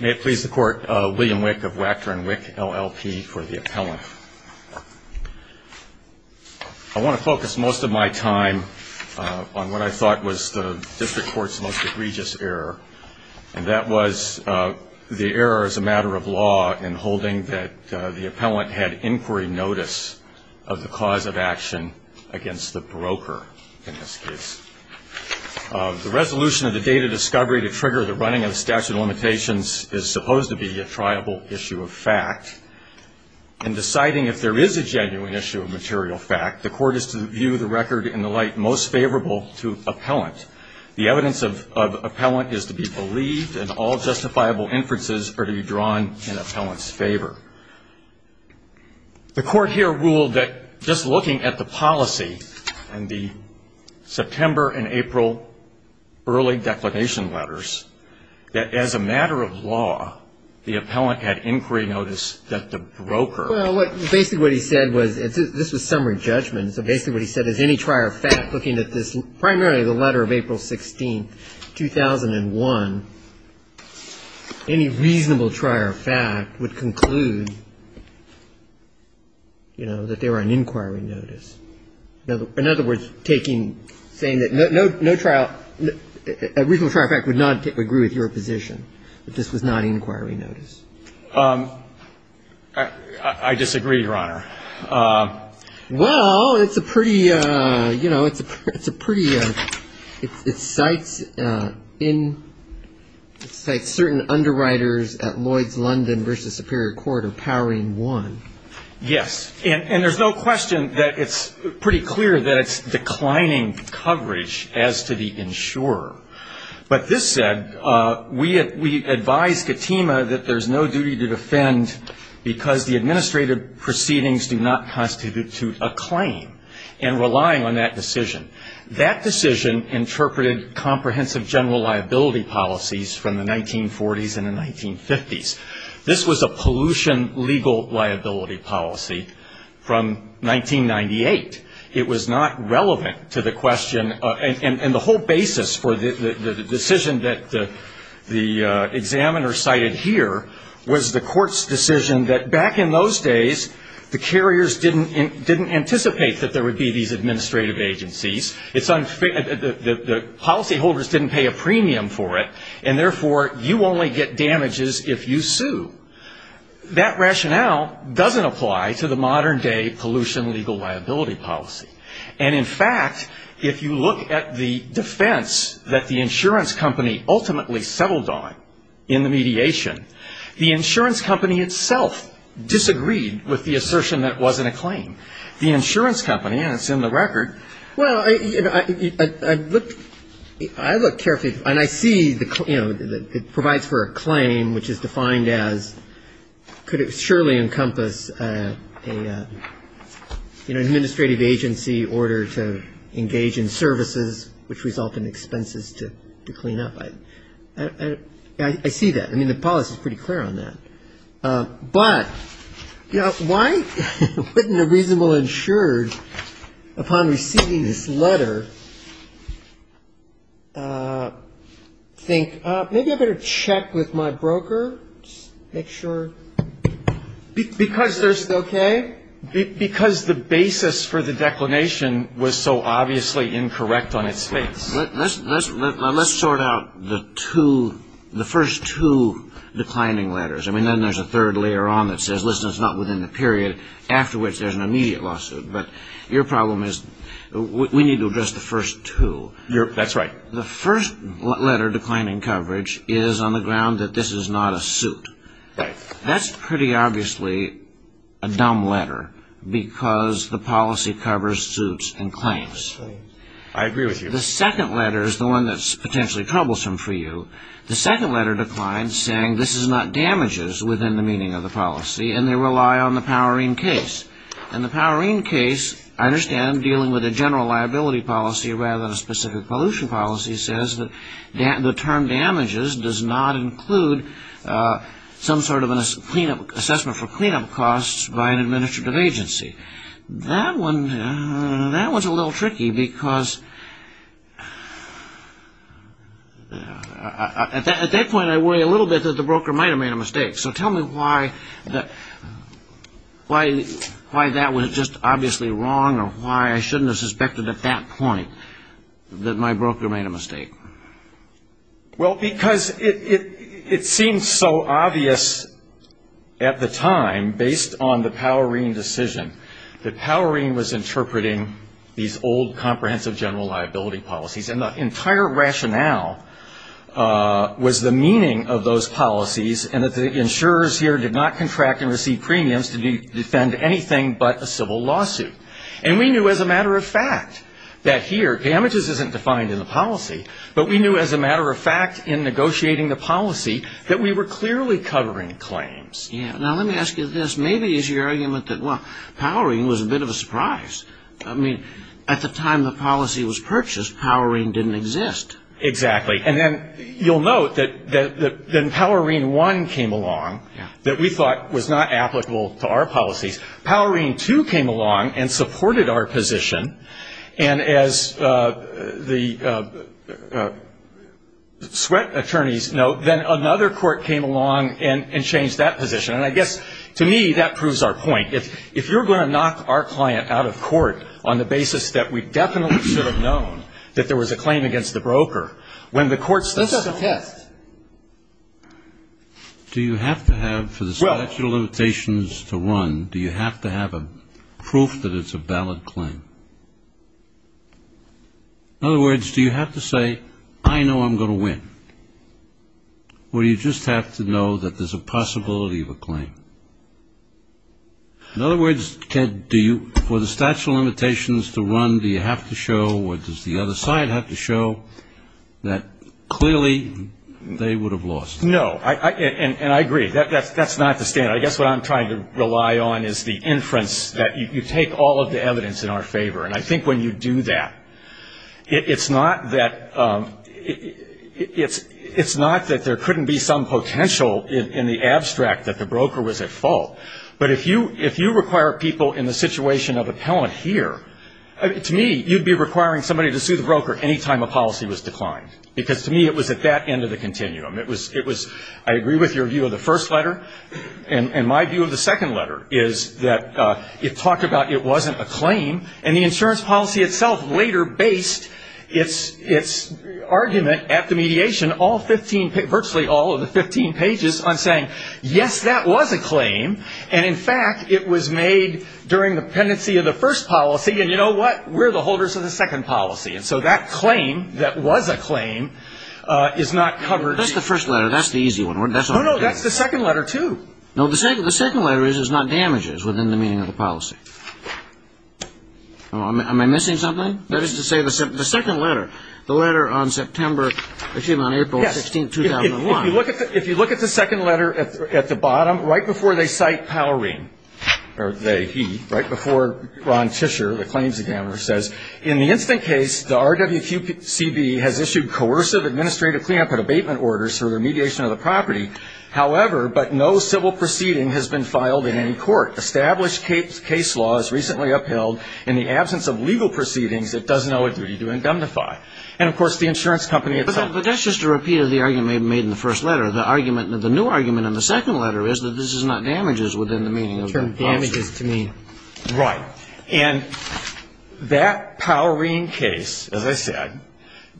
May it please the court, William Wick of Wachter & Wick, LLP, for the appellant. I want to focus most of my time on what I thought was the district court's most egregious error, and that was the error as a matter of law in holding that the appellant had inquiry notice of the cause of action against the broker, in this case. The resolution of the date of discovery to trigger the running of the statute of limitations is supposed to be a triable issue of fact. In deciding if there is a genuine issue of material fact, the court is to view the record in the light most favorable to appellant. The evidence of appellant is to be believed, and all justifiable inferences are to be drawn in appellant's favor. The court here ruled that just looking at the policy and the September and April early declaration letters, that as a matter of law, the appellant had inquiry notice that the broker. Well, basically what he said was, this was summary judgment, so basically what he said is any trier of fact looking at this, primarily the letter of April 16, 2001, any reasonable trier of fact would conclude, you know, that they were on inquiry notice. In other words, taking, saying that no trial, a reasonable trier of fact would not agree with your position, that this was not inquiry notice. I disagree, Your Honor. Well, it's a pretty, you know, it's a pretty, it cites in, it cites certain underwriters at Lloyd's London versus Superior Court are powering one. Yes. And there's no question that it's pretty clear that it's declining coverage as to the insurer. But this said, we advise Katima that there's no duty to defend because the administrative proceedings do not constitute a claim, and relying on that decision. That decision interpreted comprehensive general liability policies from the 1940s and the 1950s. This was a pollution legal liability policy from 1998. It was not relevant to the question, and the whole basis for the decision that the examiner cited here was the court's decision that back in those days, the carriers didn't anticipate that there would be these administrative agencies. It's unfair, the policyholders didn't pay a premium for it, and therefore, you only get damages if you sue. That rationale doesn't apply to the modern day pollution legal liability policy. And in fact, if you look at the defense that the insurance company ultimately settled on in the mediation, the insurance company itself disagreed with the assertion that it wasn't a claim. The insurance company, and it's in the record. Well, I looked carefully, and I see, you know, it provides for a claim which is defined as, could it surely encompass an administrative agency order to engage in services which result in expenses to clean up. I see that. I mean, the policy is pretty clear on that. But, you know, why wouldn't a reasonable insured, upon receiving this letter, think, maybe I better check with my broker, make sure. Because there's, okay. Because the basis for the declination was so obviously incorrect on its face. Let's sort out the two, the first two declining letters. I mean, then there's a third later on that says, listen, it's not within the period, after which there's an immediate lawsuit. But your problem is we need to address the first two. That's right. The first letter, declining coverage, is on the ground that this is not a suit. Right. That's pretty obviously a dumb letter, because the policy covers suits and claims. I agree with you. The second letter is the one that's potentially troublesome for you. The second letter declines, saying this is not damages within the meaning of the policy, and they rely on the Powerine case. And the Powerine case, I understand, dealing with a general liability policy rather than a specific pollution policy, says that the term damages does not include some sort of an assessment for cleanup costs by an administrative agency. That one's a little tricky, because at that point I worry a little bit that the broker might have made a mistake. So tell me why that was just obviously wrong or why I shouldn't have suspected at that point that my broker made a mistake. Well, because it seems so obvious at the time, based on the Powerine decision, that Powerine was interpreting these old comprehensive general liability policies, and the entire rationale was the meaning of those policies and that the insurers here did not contract and receive premiums to defend anything but a civil lawsuit. And we knew as a matter of fact that here damages isn't defined in the policy, but we knew as a matter of fact in negotiating the policy that we were clearly covering claims. Yeah. Now, let me ask you this. Maybe it's your argument that, well, Powerine was a bit of a surprise. I mean, at the time the policy was purchased, Powerine didn't exist. Exactly. And then you'll note that Powerine 1 came along that we thought was not applicable to our policies. Powerine 2 came along and supported our position, and as the sweat attorneys note, then another court came along and changed that position. And I guess to me that proves our point. If you're going to knock our client out of court on the basis that we definitely should have known that there was a claim against the broker, when the court says so. This is a test. Do you have to have, for the statute of limitations to run, do you have to have proof that it's a valid claim? In other words, do you have to say, I know I'm going to win, or do you just have to know that there's a possibility of a claim? In other words, for the statute of limitations to run, do you have to show, or does the other side have to show that clearly they would have lost? No. And I agree. That's not the standard. I guess what I'm trying to rely on is the inference that you take all of the evidence in our favor. And I think when you do that, it's not that there couldn't be some potential in the abstract that the broker was at fault. But if you require people in the situation of appellant here, to me, you'd be requiring somebody to sue the broker any time a policy was declined. Because to me, it was at that end of the continuum. It was, I agree with your view of the first letter. And my view of the second letter is that it talked about it wasn't a claim, and the insurance policy itself later based its argument at the mediation, virtually all of the 15 pages, on saying, yes, that was a claim. And, in fact, it was made during the pendency of the first policy. And you know what? We're the holders of the second policy. And so that claim that was a claim is not covered. That's the first letter. That's the easy one. No, no, that's the second letter, too. No, the second letter is it's not damages within the meaning of the policy. Am I missing something? That is to say the second letter, the letter on September, excuse me, on April 16th, 2001. If you look at the second letter at the bottom, right before they cite Powreen, or he, right before Ron Tischer, the claims examiner, says, in the instant case the RWQCB has issued coercive administrative cleanup and abatement orders for the remediation of the property. However, but no civil proceeding has been filed in any court. Established case law is recently upheld. In the absence of legal proceedings, it does not owe a duty to indemnify. And, of course, the insurance company itself. But that's just a repeat of the argument made in the first letter. The new argument in the second letter is that this is not damages within the meaning of the policy. Damages to me. Right. And that Powreen case, as I said,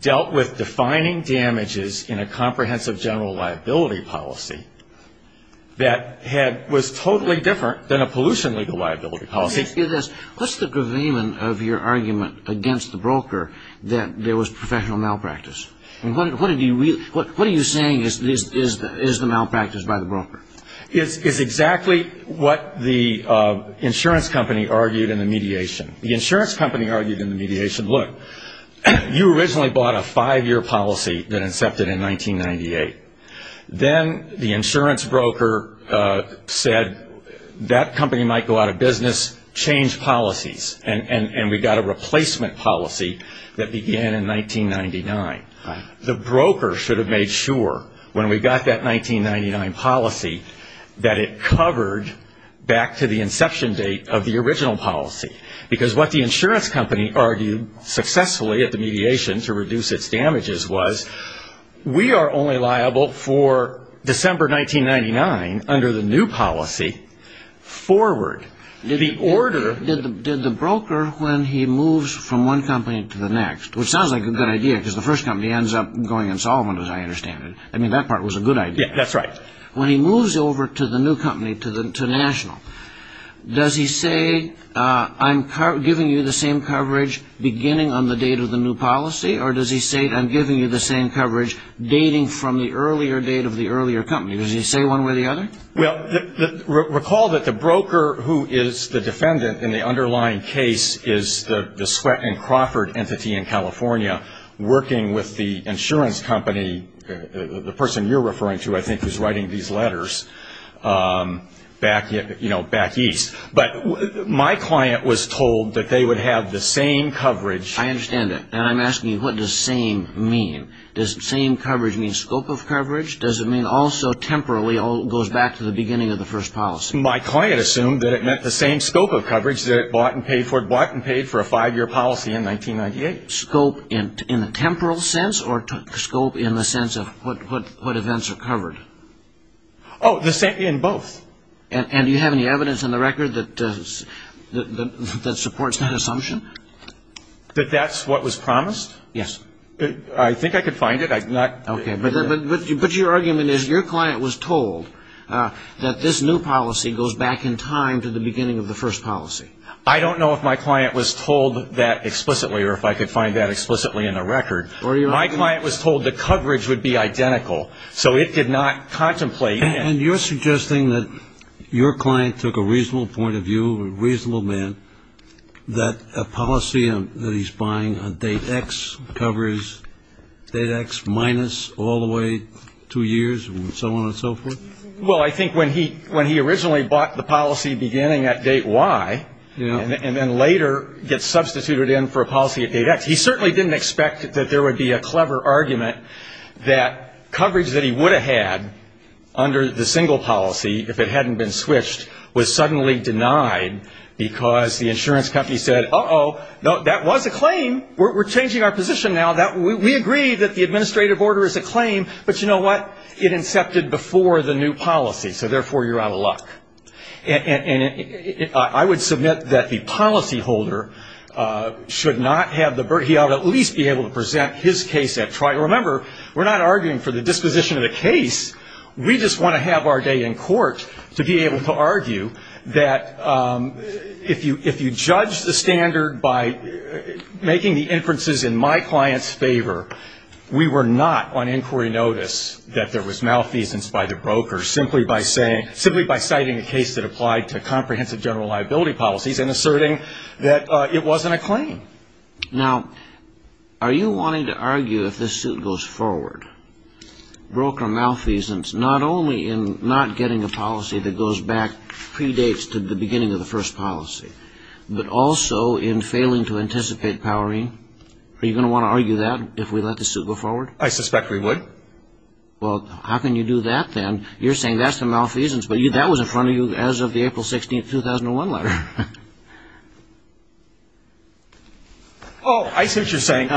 dealt with defining damages in a comprehensive general liability policy that was totally different than a pollution legal liability policy. Let me ask you this. What's the gravamen of your argument against the broker that there was professional malpractice? And what are you saying is the malpractice by the broker? It's exactly what the insurance company argued in the mediation. The insurance company argued in the mediation, look, you originally bought a five-year policy that incepted in 1998. Then the insurance broker said that company might go out of business, change policies, and we got a replacement policy that began in 1999. The broker should have made sure when we got that 1999 policy that it covered back to the inception date of the original policy. Because what the insurance company argued successfully at the mediation to reduce its damages was we are only liable for December 1999 under the new policy forward. Did the broker, when he moves from one company to the next, which sounds like a good idea because the first company ends up going insolvent as I understand it. I mean, that part was a good idea. Yes, that's right. When he moves over to the new company, to National, does he say I'm giving you the same coverage beginning on the date of the new policy? Or does he say I'm giving you the same coverage dating from the earlier date of the earlier company? Does he say one way or the other? Well, recall that the broker who is the defendant in the underlying case is the Sweatt and Crawford entity in California, working with the insurance company, the person you're referring to, I think, who's writing these letters back east. But my client was told that they would have the same coverage. I understand that. And I'm asking you, what does same mean? Does same coverage mean scope of coverage? Does it mean also temporarily goes back to the beginning of the first policy? My client assumed that it meant the same scope of coverage that it bought and paid for. It bought and paid for a five-year policy in 1998. Scope in a temporal sense or scope in the sense of what events are covered? Oh, in both. And do you have any evidence in the record that supports that assumption? That that's what was promised? Yes. I think I could find it. Okay. But your argument is your client was told that this new policy goes back in time to the beginning of the first policy. I don't know if my client was told that explicitly or if I could find that explicitly in the record. My client was told the coverage would be identical, so it did not contemplate. And you're suggesting that your client took a reasonable point of view, a reasonable man, that a policy that he's buying on date X covers date X minus all the way two years and so on and so forth? Well, I think when he originally bought the policy beginning at date Y and then later gets substituted in for a policy at date X, he certainly didn't expect that there would be a clever argument that coverage that he would have had under the single policy, if it hadn't been switched, was suddenly denied because the insurance company said, uh-oh, no, that was a claim. We're changing our position now. We agree that the administrative order is a claim, but you know what? It incepted before the new policy, so therefore you're out of luck. And I would submit that the policyholder should not have the burden. He ought to at least be able to present his case at trial. Remember, we're not arguing for the disposition of the case. We just want to have our day in court to be able to argue that if you judge the standard by making the inferences in my client's favor, we were not on inquiry notice that there was malfeasance by the broker, simply by citing a case that applied to comprehensive general liability policies and asserting that it wasn't a claim. Now, are you wanting to argue if this suit goes forward, broker malfeasance, not only in not getting a policy that goes back, predates to the beginning of the first policy, but also in failing to anticipate powering? Are you going to want to argue that if we let this suit go forward? I suspect we would. Well, how can you do that then? You're saying that's the malfeasance, but that was in front of you as of the April 16th, 2001 letter. Oh, I see what you're saying.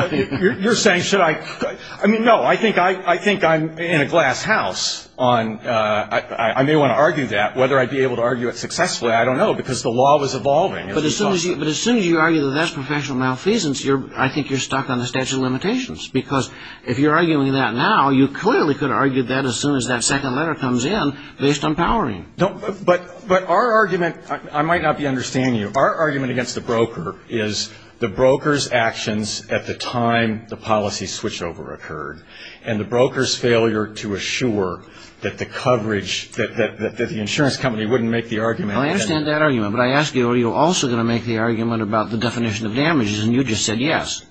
You're saying should I – I mean, no. I think I'm in a glass house on – I may want to argue that. Whether I'd be able to argue it successfully, I don't know, because the law was evolving. But as soon as you argue that that's professional malfeasance, I think you're stuck on the statute of limitations, because if you're arguing that now, you clearly could argue that as soon as that second letter comes in based on powering. But our argument – I might not be understanding you. Our argument against the broker is the broker's actions at the time the policy switchover occurred and the broker's failure to assure that the coverage – that the insurance company wouldn't make the argument. I understand that argument, but I ask you, are you also going to make the argument about the definition of damages, and you just said yes.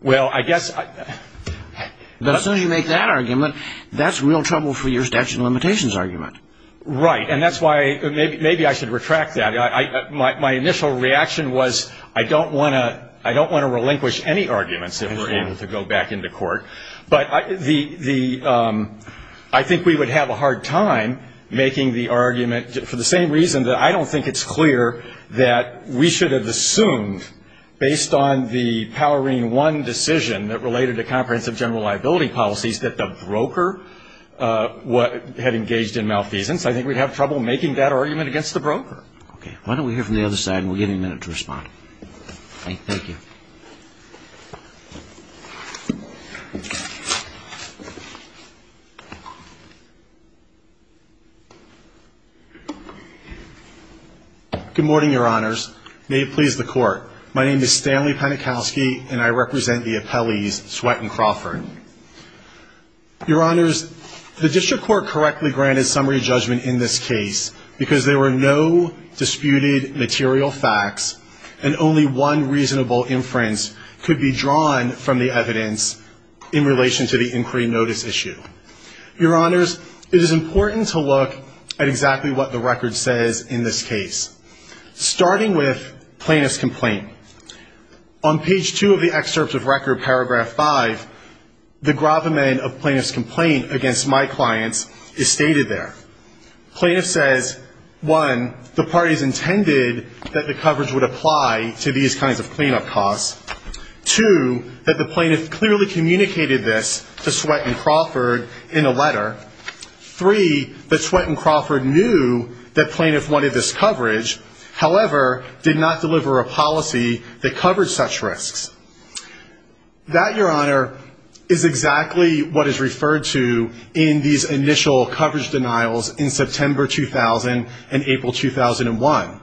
Well, I guess – But as soon as you make that argument, that's real trouble for your statute of limitations argument. Right, and that's why – maybe I should retract that. My initial reaction was I don't want to relinquish any arguments if we're able to go back into court. But the – I think we would have a hard time making the argument for the same reason that I don't think it's clear that we should have assumed based on the powering one decision that related to comprehensive general liability policies that the broker had engaged in malfeasance. I think we'd have trouble making that argument against the broker. Okay. Why don't we hear from the other side, and we'll give you a minute to respond. Thank you. Good morning, Your Honors. May it please the Court. My name is Stanley Penikowski, and I represent the appellees Sweatt and Crawford. Your Honors, the district court correctly granted summary judgment in this case because there were no disputed material facts and only one reasonable inference. Your Honors, it is important to look at exactly what the record says in this case. Starting with plaintiff's complaint. On page 2 of the excerpt of record, paragraph 5, the gravamen of plaintiff's complaint against my clients is stated there. Plaintiff says, one, the parties intended that the coverage would apply to these kinds of cleanup costs. Two, that the plaintiff clearly communicated this to Sweatt and Crawford in a letter. Three, that Sweatt and Crawford knew that plaintiff wanted this coverage, however, did not deliver a policy that covered such risks. That, Your Honor, is exactly what is referred to in these initial coverage denials in September 2000 and April 2001.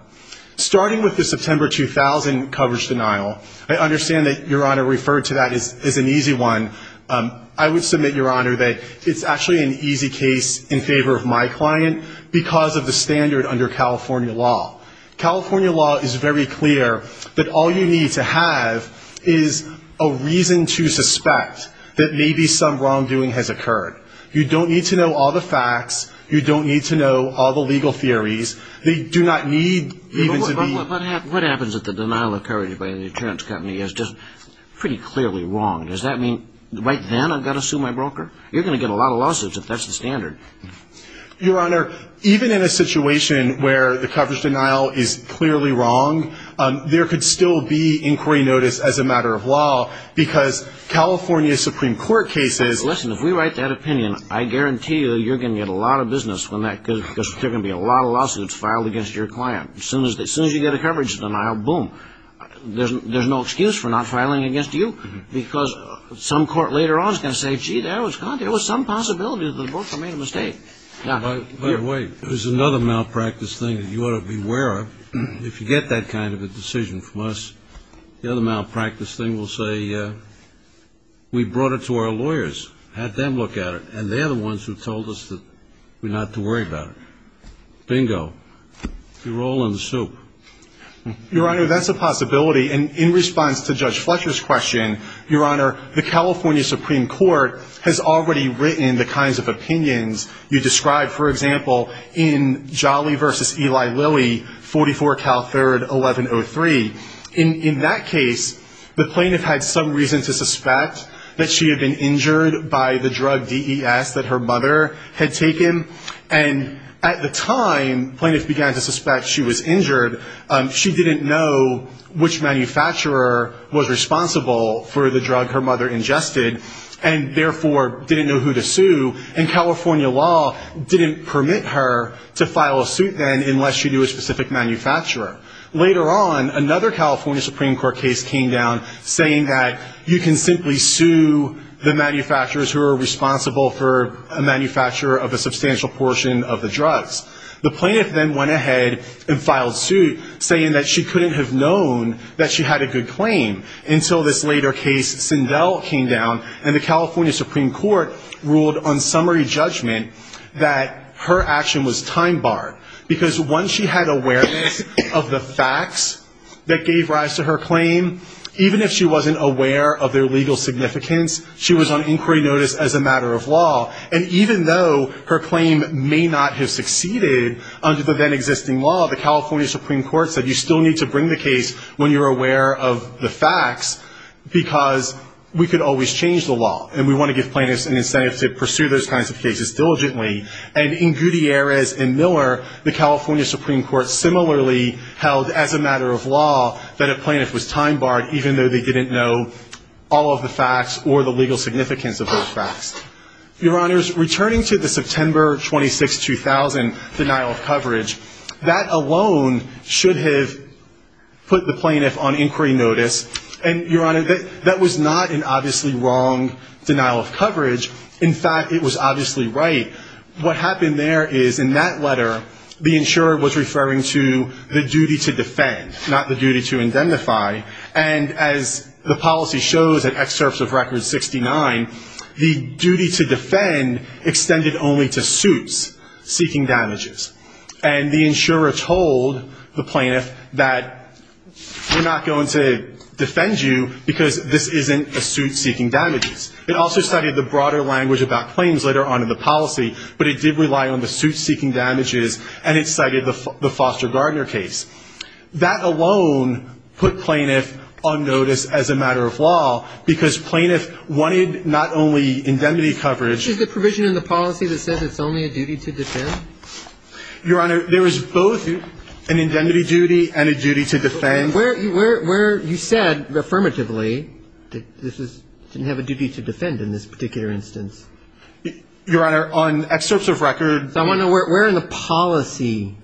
Starting with the September 2000 coverage denial, I understand that, Your Honor, referred to that as an easy one. I would submit, Your Honor, that it's actually an easy case in favor of my client because of the standard under California law. California law is very clear that all you need to have is a reason to suspect that maybe some wrongdoing has occurred. You don't need to know all the facts. You don't need to know all the legal theories. They do not need even to be... But what happens if the denial of coverage by the insurance company is just pretty clearly wrong? Does that mean right then I've got to sue my broker? You're going to get a lot of lawsuits if that's the standard. Your Honor, even in a situation where the coverage denial is clearly wrong, there could still be inquiry notice as a matter of law because California Supreme Court cases... Listen, if we write that opinion, I guarantee you you're going to get a lot of business because there's going to be a lot of lawsuits filed against your client. As soon as you get a coverage denial, boom. There's no excuse for not filing against you because some court later on is going to say, gee, there was some possibility that the broker made a mistake. By the way, there's another malpractice thing that you ought to be aware of. If you get that kind of a decision from us, the other malpractice thing will say we brought it to our lawyers, had them look at it, and they're the ones who told us not to worry about it. Bingo. You're all in the soup. Your Honor, that's a possibility. And in response to Judge Fletcher's question, Your Honor, the California Supreme Court has already written the kinds of opinions you described, for example, in Jolly v. Eli Lilly, 44 Cal 3rd, 1103. In that case, the plaintiff had some reason to suspect that she had been injured by the drug DES that her mother had taken. And at the time, the plaintiff began to suspect she was injured. She didn't know which manufacturer was responsible for the drug her mother ingested and therefore didn't know who to sue. And California law didn't permit her to file a suit then unless she knew a specific manufacturer. Later on, another California Supreme Court case came down saying that you can simply sue the manufacturers who are responsible for a manufacturer of a substantial portion of the drugs. The plaintiff then went ahead and filed suit saying that she couldn't have known that she had a good claim until this later case, Sindel, came down, and the California Supreme Court ruled on summary judgment that her action was time-barred. Because once she had awareness of the facts that gave rise to her claim, even if she wasn't aware of their legal significance, she was on inquiry notice as a matter of law. And even though her claim may not have succeeded under the then-existing law, the California Supreme Court said you still need to bring the case when you're aware of the facts, because we could always change the law and we want to give plaintiffs an incentive to pursue those kinds of cases diligently. And in Gutierrez and Miller, the California Supreme Court similarly held as a matter of law that a plaintiff was time-barred even though they didn't know all of the facts or the legal significance of those facts. Your Honors, returning to the September 26, 2000 denial of coverage, that alone should have put the plaintiff on inquiry notice. And, Your Honor, that was not an obviously wrong denial of coverage. In fact, it was obviously right. What happened there is, in that letter, the insurer was referring to the duty to defend, not the duty to indemnify. And as the policy shows in excerpts of Record 69, the duty to defend extended only to suits seeking damages. And the insurer told the plaintiff that we're not going to defend you because this isn't a suit seeking damages. It also cited the broader language about claims later on in the policy, but it did rely on the suit seeking damages and it cited the Foster Gardner case. That alone put plaintiff on notice as a matter of law, because plaintiff wanted not only indemnity coverage. Is the provision in the policy that says it's only a duty to defend? Your Honor, there is both an indemnity duty and a duty to defend. And where you said affirmatively that this didn't have a duty to defend in this particular instance. Your Honor, on excerpts of Record 69. So I want to know where in the policy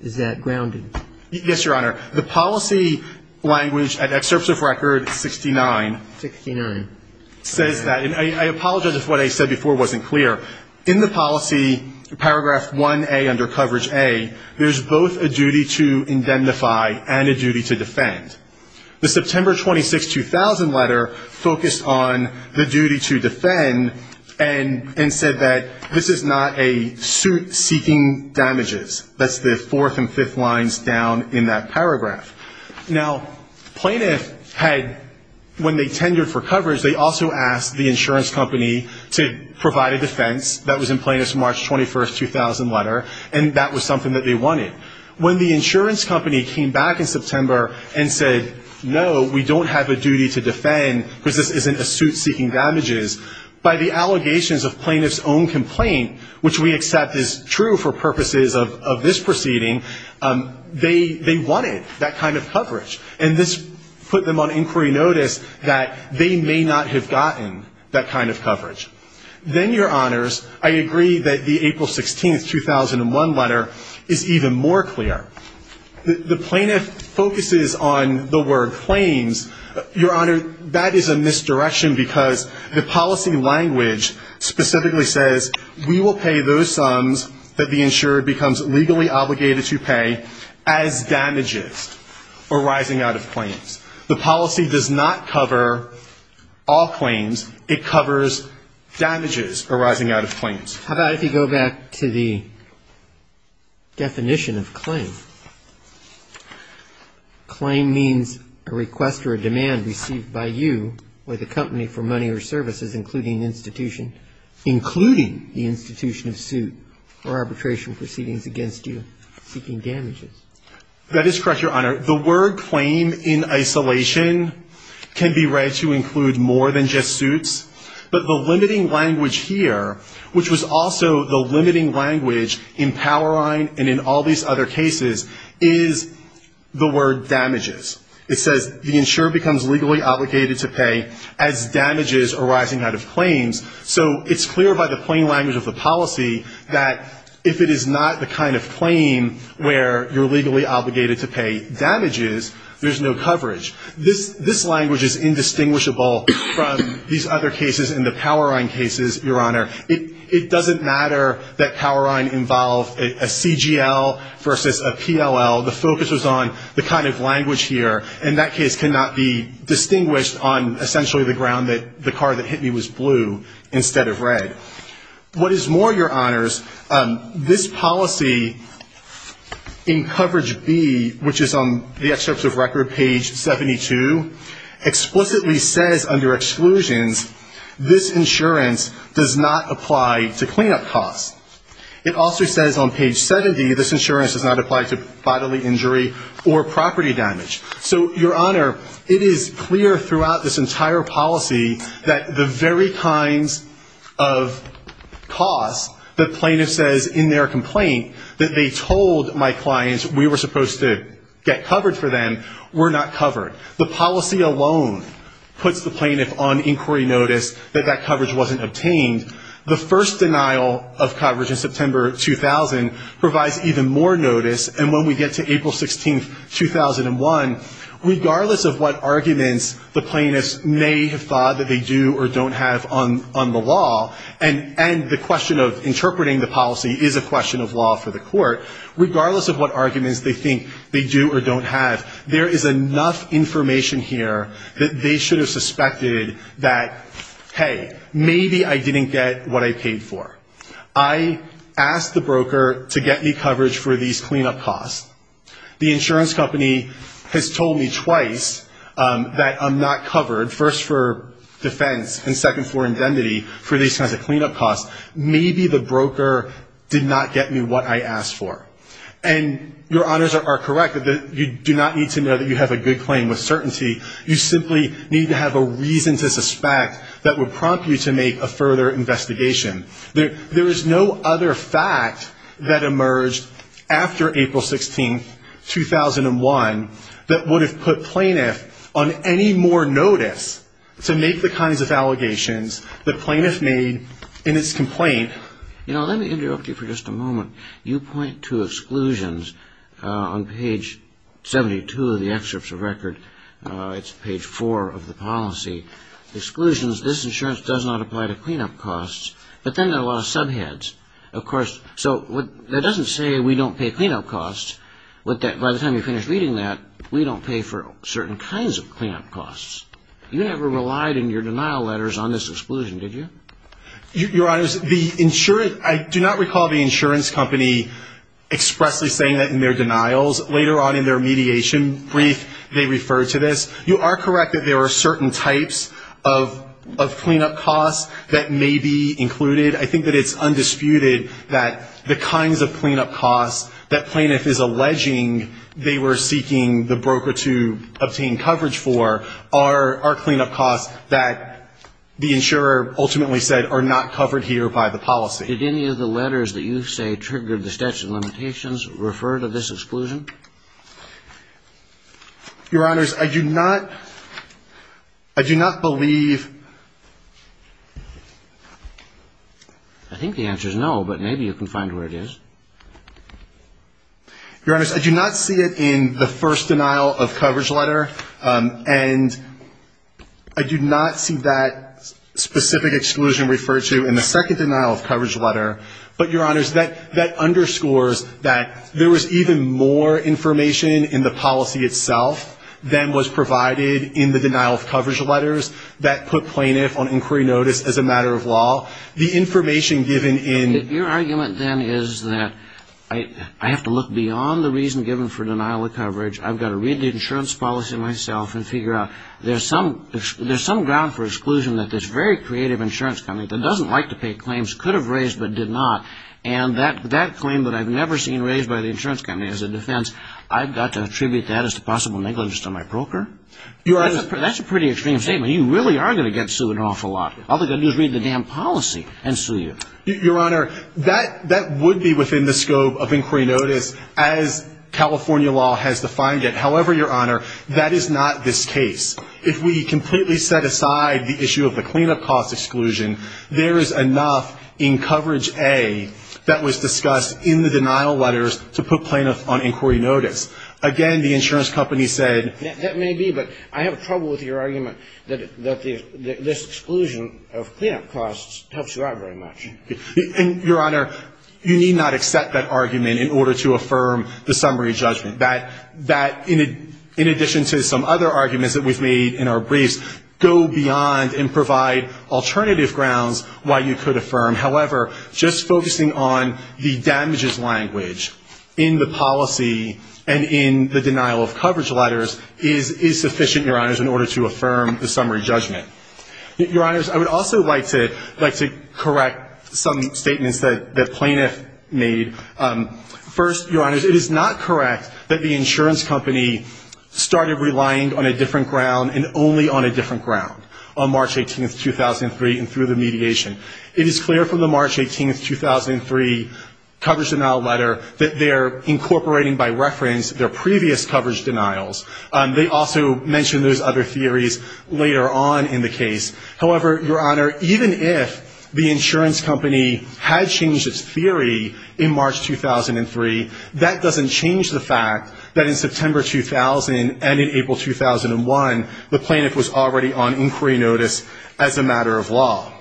is that grounded? Yes, Your Honor. The policy language at excerpts of Record 69. 69. Says that. And I apologize if what I said before wasn't clear. In the policy, paragraph 1A under coverage A, there's both a duty to indemnify and a duty to defend. The September 26, 2000 letter focused on the duty to defend and said that this is not a suit seeking damages. That's the fourth and fifth lines down in that paragraph. Now, plaintiff had, when they tendered for coverage, they also asked the insurance company to provide a defense. That was in plaintiff's March 21, 2000 letter. And that was something that they wanted. When the insurance company came back in September and said, no, we don't have a duty to defend because this isn't a suit seeking damages. By the allegations of plaintiff's own complaint, which we accept is true for purposes of this proceeding. They wanted that kind of coverage. And this put them on inquiry notice that they may not have gotten that kind of coverage. Then, Your Honors, I agree that the April 16, 2001 letter is even more clear. The plaintiff focuses on the word claims. Your Honor, that is a misdirection because the policy language specifically says, we will pay those sums that the insurer becomes legally obligated to pay as damages arising out of claims. The policy does not cover all claims. It covers damages arising out of claims. How about if you go back to the definition of claim? Claim means a request or a demand received by you or the company for money or services, including institution. Including the institution of suit or arbitration proceedings against you seeking damages. That is correct, Your Honor. The word claim in isolation can be read to include more than just suits. But the limiting language here, which was also the limiting language in Powerline and in all these other cases, is the word damages. It says the insurer becomes legally obligated to pay as damages arising out of claims. So it's clear by the plain language of the policy that if it is not the kind of claim where you're legally obligated to pay damages, there's no coverage. This language is indistinguishable from these other cases and the Powerline cases, Your Honor. It doesn't matter that Powerline involved a CGL versus a PLL. The focus was on the kind of language here. And that case cannot be distinguished on essentially the ground that the car that hit me was blue instead of red. What is more, Your Honors, this policy in coverage B, which is on the excerpts of record, page 72, explicitly says under exclusions this insurance does not apply to cleanup costs. It also says on page 70 this insurance does not apply to bodily injury or property damage. So, Your Honor, it is clear throughout this entire policy that the very kinds of costs the plaintiff says in their complaint, that they told my clients we were supposed to get coverage for them, were not covered. The policy alone puts the plaintiff on inquiry notice that that coverage wasn't obtained. The first denial of coverage in September 2000 provides even more notice. And when we get to April 16, 2001, regardless of what arguments the plaintiffs may have thought that they do or don't have on the law, and the question of interpreting the policy is a question of law for the court, regardless of what arguments they think they do or don't have, there is enough information here that they should have suspected that, hey, maybe I didn't get what I paid for. I asked the broker to get me coverage for these cleanup costs. The insurance company has told me twice that I'm not covered, first for defense and second for indemnity, for these kinds of cleanup costs. Maybe the broker did not get me what I asked for. And your honors are correct that you do not need to know that you have a good claim with certainty. You simply need to have a reason to suspect that would prompt you to make a further investigation. There is no other fact that emerged after April 16, 2001, that would have put plaintiff on any more notice to make the kinds of allegations the plaintiff made in its complaint. You know, let me interrupt you for just a moment. You point to exclusions on page 72 of the excerpts of record. It's page 4 of the policy. Exclusions, this insurance does not apply to cleanup costs, but then there are a lot of subheads. Of course, so that doesn't say we don't pay cleanup costs, but that by the time you finish reading that, we don't pay for certain kinds of cleanup costs. You never relied in your denial letters on this exclusion, did you? Your honors, the insurance, I do not recall the insurance company expressly saying that in their denials. Later on in their mediation brief, they referred to this. You are correct that there are certain types of cleanup costs that may be included. I think that it's undisputed that the kinds of cleanup costs that plaintiff is alleging they were seeking the broker to obtain coverage for are cleanup costs that the insurer ultimately said are not covered here by the policy. Did any of the letters that you say triggered the statute of limitations refer to this exclusion? Your honors, I do not, I do not believe. I think the answer is no, but maybe you can find where it is. Your honors, I do not see it in the first denial of coverage letter, and I do not see that specific exclusion referred to in the second denial of coverage letter. But, your honors, that underscores that there was even more information in the policy itself than was provided in the denial of coverage letters that put plaintiff on inquiry notice as a matter of law. The information given in... Your argument then is that I have to look beyond the reason given for denial of coverage, I've got to read the insurance policy myself and figure out there's some ground for exclusion that this very creative insurance company that doesn't like to pay claims could have raised but did not, and that claim that I've never seen raised by the insurance company as a defense, I've got to attribute that as to possible negligence to my broker? Your honors... That's a pretty extreme statement. You really are going to get sued an awful lot. All they're going to do is read the damn policy and sue you. Your honor, that would be within the scope of inquiry notice as California law has defined it. However, your honor, that is not this case. If we completely set aside the issue of the cleanup cost exclusion, there is enough in coverage A that was discussed in the denial letters to put plaintiff on inquiry notice. Again, the insurance company said... That may be, but I have trouble with your argument that this exclusion of cleanup costs helps you out very much. Your honor, you need not accept that argument in order to affirm the summary judgment. That, in addition to some other arguments that we've made in our briefs, go beyond and provide alternative grounds why you could affirm. However, just focusing on the damages language in the policy and in the denial of coverage letters is sufficient, your honors, in order to affirm the summary judgment. Your honors, I would also like to correct some statements that plaintiff made. First, your honors, it is not correct that the insurance company started relying on a different ground and only on a different ground on March 18th, 2003 and through the mediation. It is clear from the March 18th, 2003 coverage denial letter that they're incorporating by reference their previous coverage denials. They also mention those other theories later on in the case. However, your honor, even if the insurance company had changed its theory in March 2003, that doesn't change the fact that in September 2000 and in April 2001, the plaintiff was already on inquiry notice as a matter of law.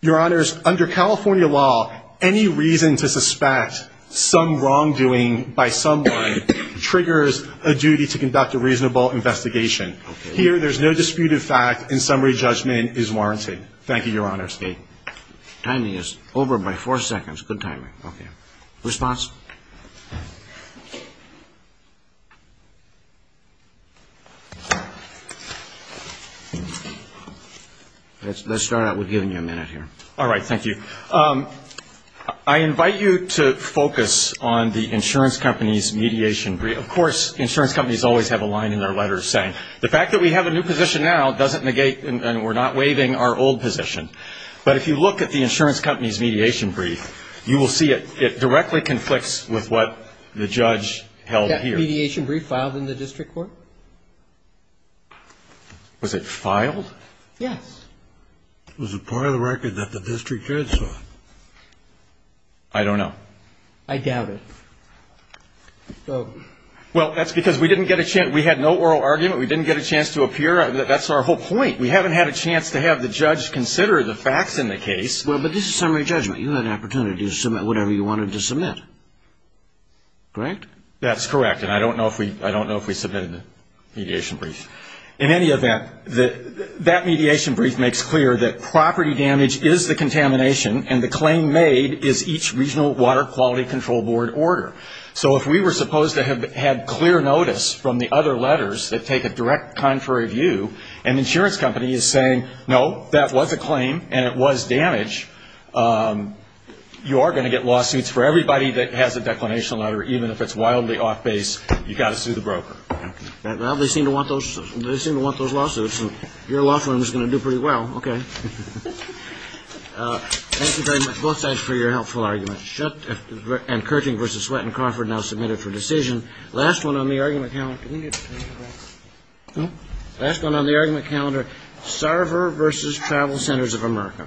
Your honors, under California law, any reason to suspect some wrongdoing by someone triggers a duty to conduct a reasonable investigation. Here, there's no disputed fact and summary judgment is warranted. Thank you, your honors. The timing is over by four seconds. Good timing. Okay. Response? Let's start out with giving you a minute here. All right. Thank you. I invite you to focus on the insurance company's mediation brief. Of course, insurance companies always have a line in their letters saying, the fact that we have a new position now doesn't negate and we're not waiving our old position. But if you look at the insurance company's mediation brief, you will see it directly conflicts with the insurance company's mediation brief. It conflicts with what the judge held here. That mediation brief filed in the district court? Was it filed? Yes. Was it part of the record that the district judge saw? I don't know. I doubt it. Well, that's because we didn't get a chance. We had no oral argument. We didn't get a chance to appear. That's our whole point. We haven't had a chance to have the judge consider the facts in the case. Well, but this is summary judgment. You had an opportunity to submit whatever you wanted to submit, correct? That's correct. And I don't know if we submitted the mediation brief. In any event, that mediation brief makes clear that property damage is the contamination and the claim made is each regional water quality control board order. So if we were supposed to have had clear notice from the other letters that take a direct contrary view, an insurance company is saying, no, that was a claim and it was damage, you are going to get lawsuits for everybody that has a declination letter, even if it's wildly off base. You've got to sue the broker. Well, they seem to want those lawsuits, and your law firm is going to do pretty well. Okay. Thank you very much, both sides, for your helpful arguments. And Kerching v. Sweatt and Crawford now submitted for decision. Last one on the argument calendar. Last one on the argument calendar, Sarver v. Travel Centers of America.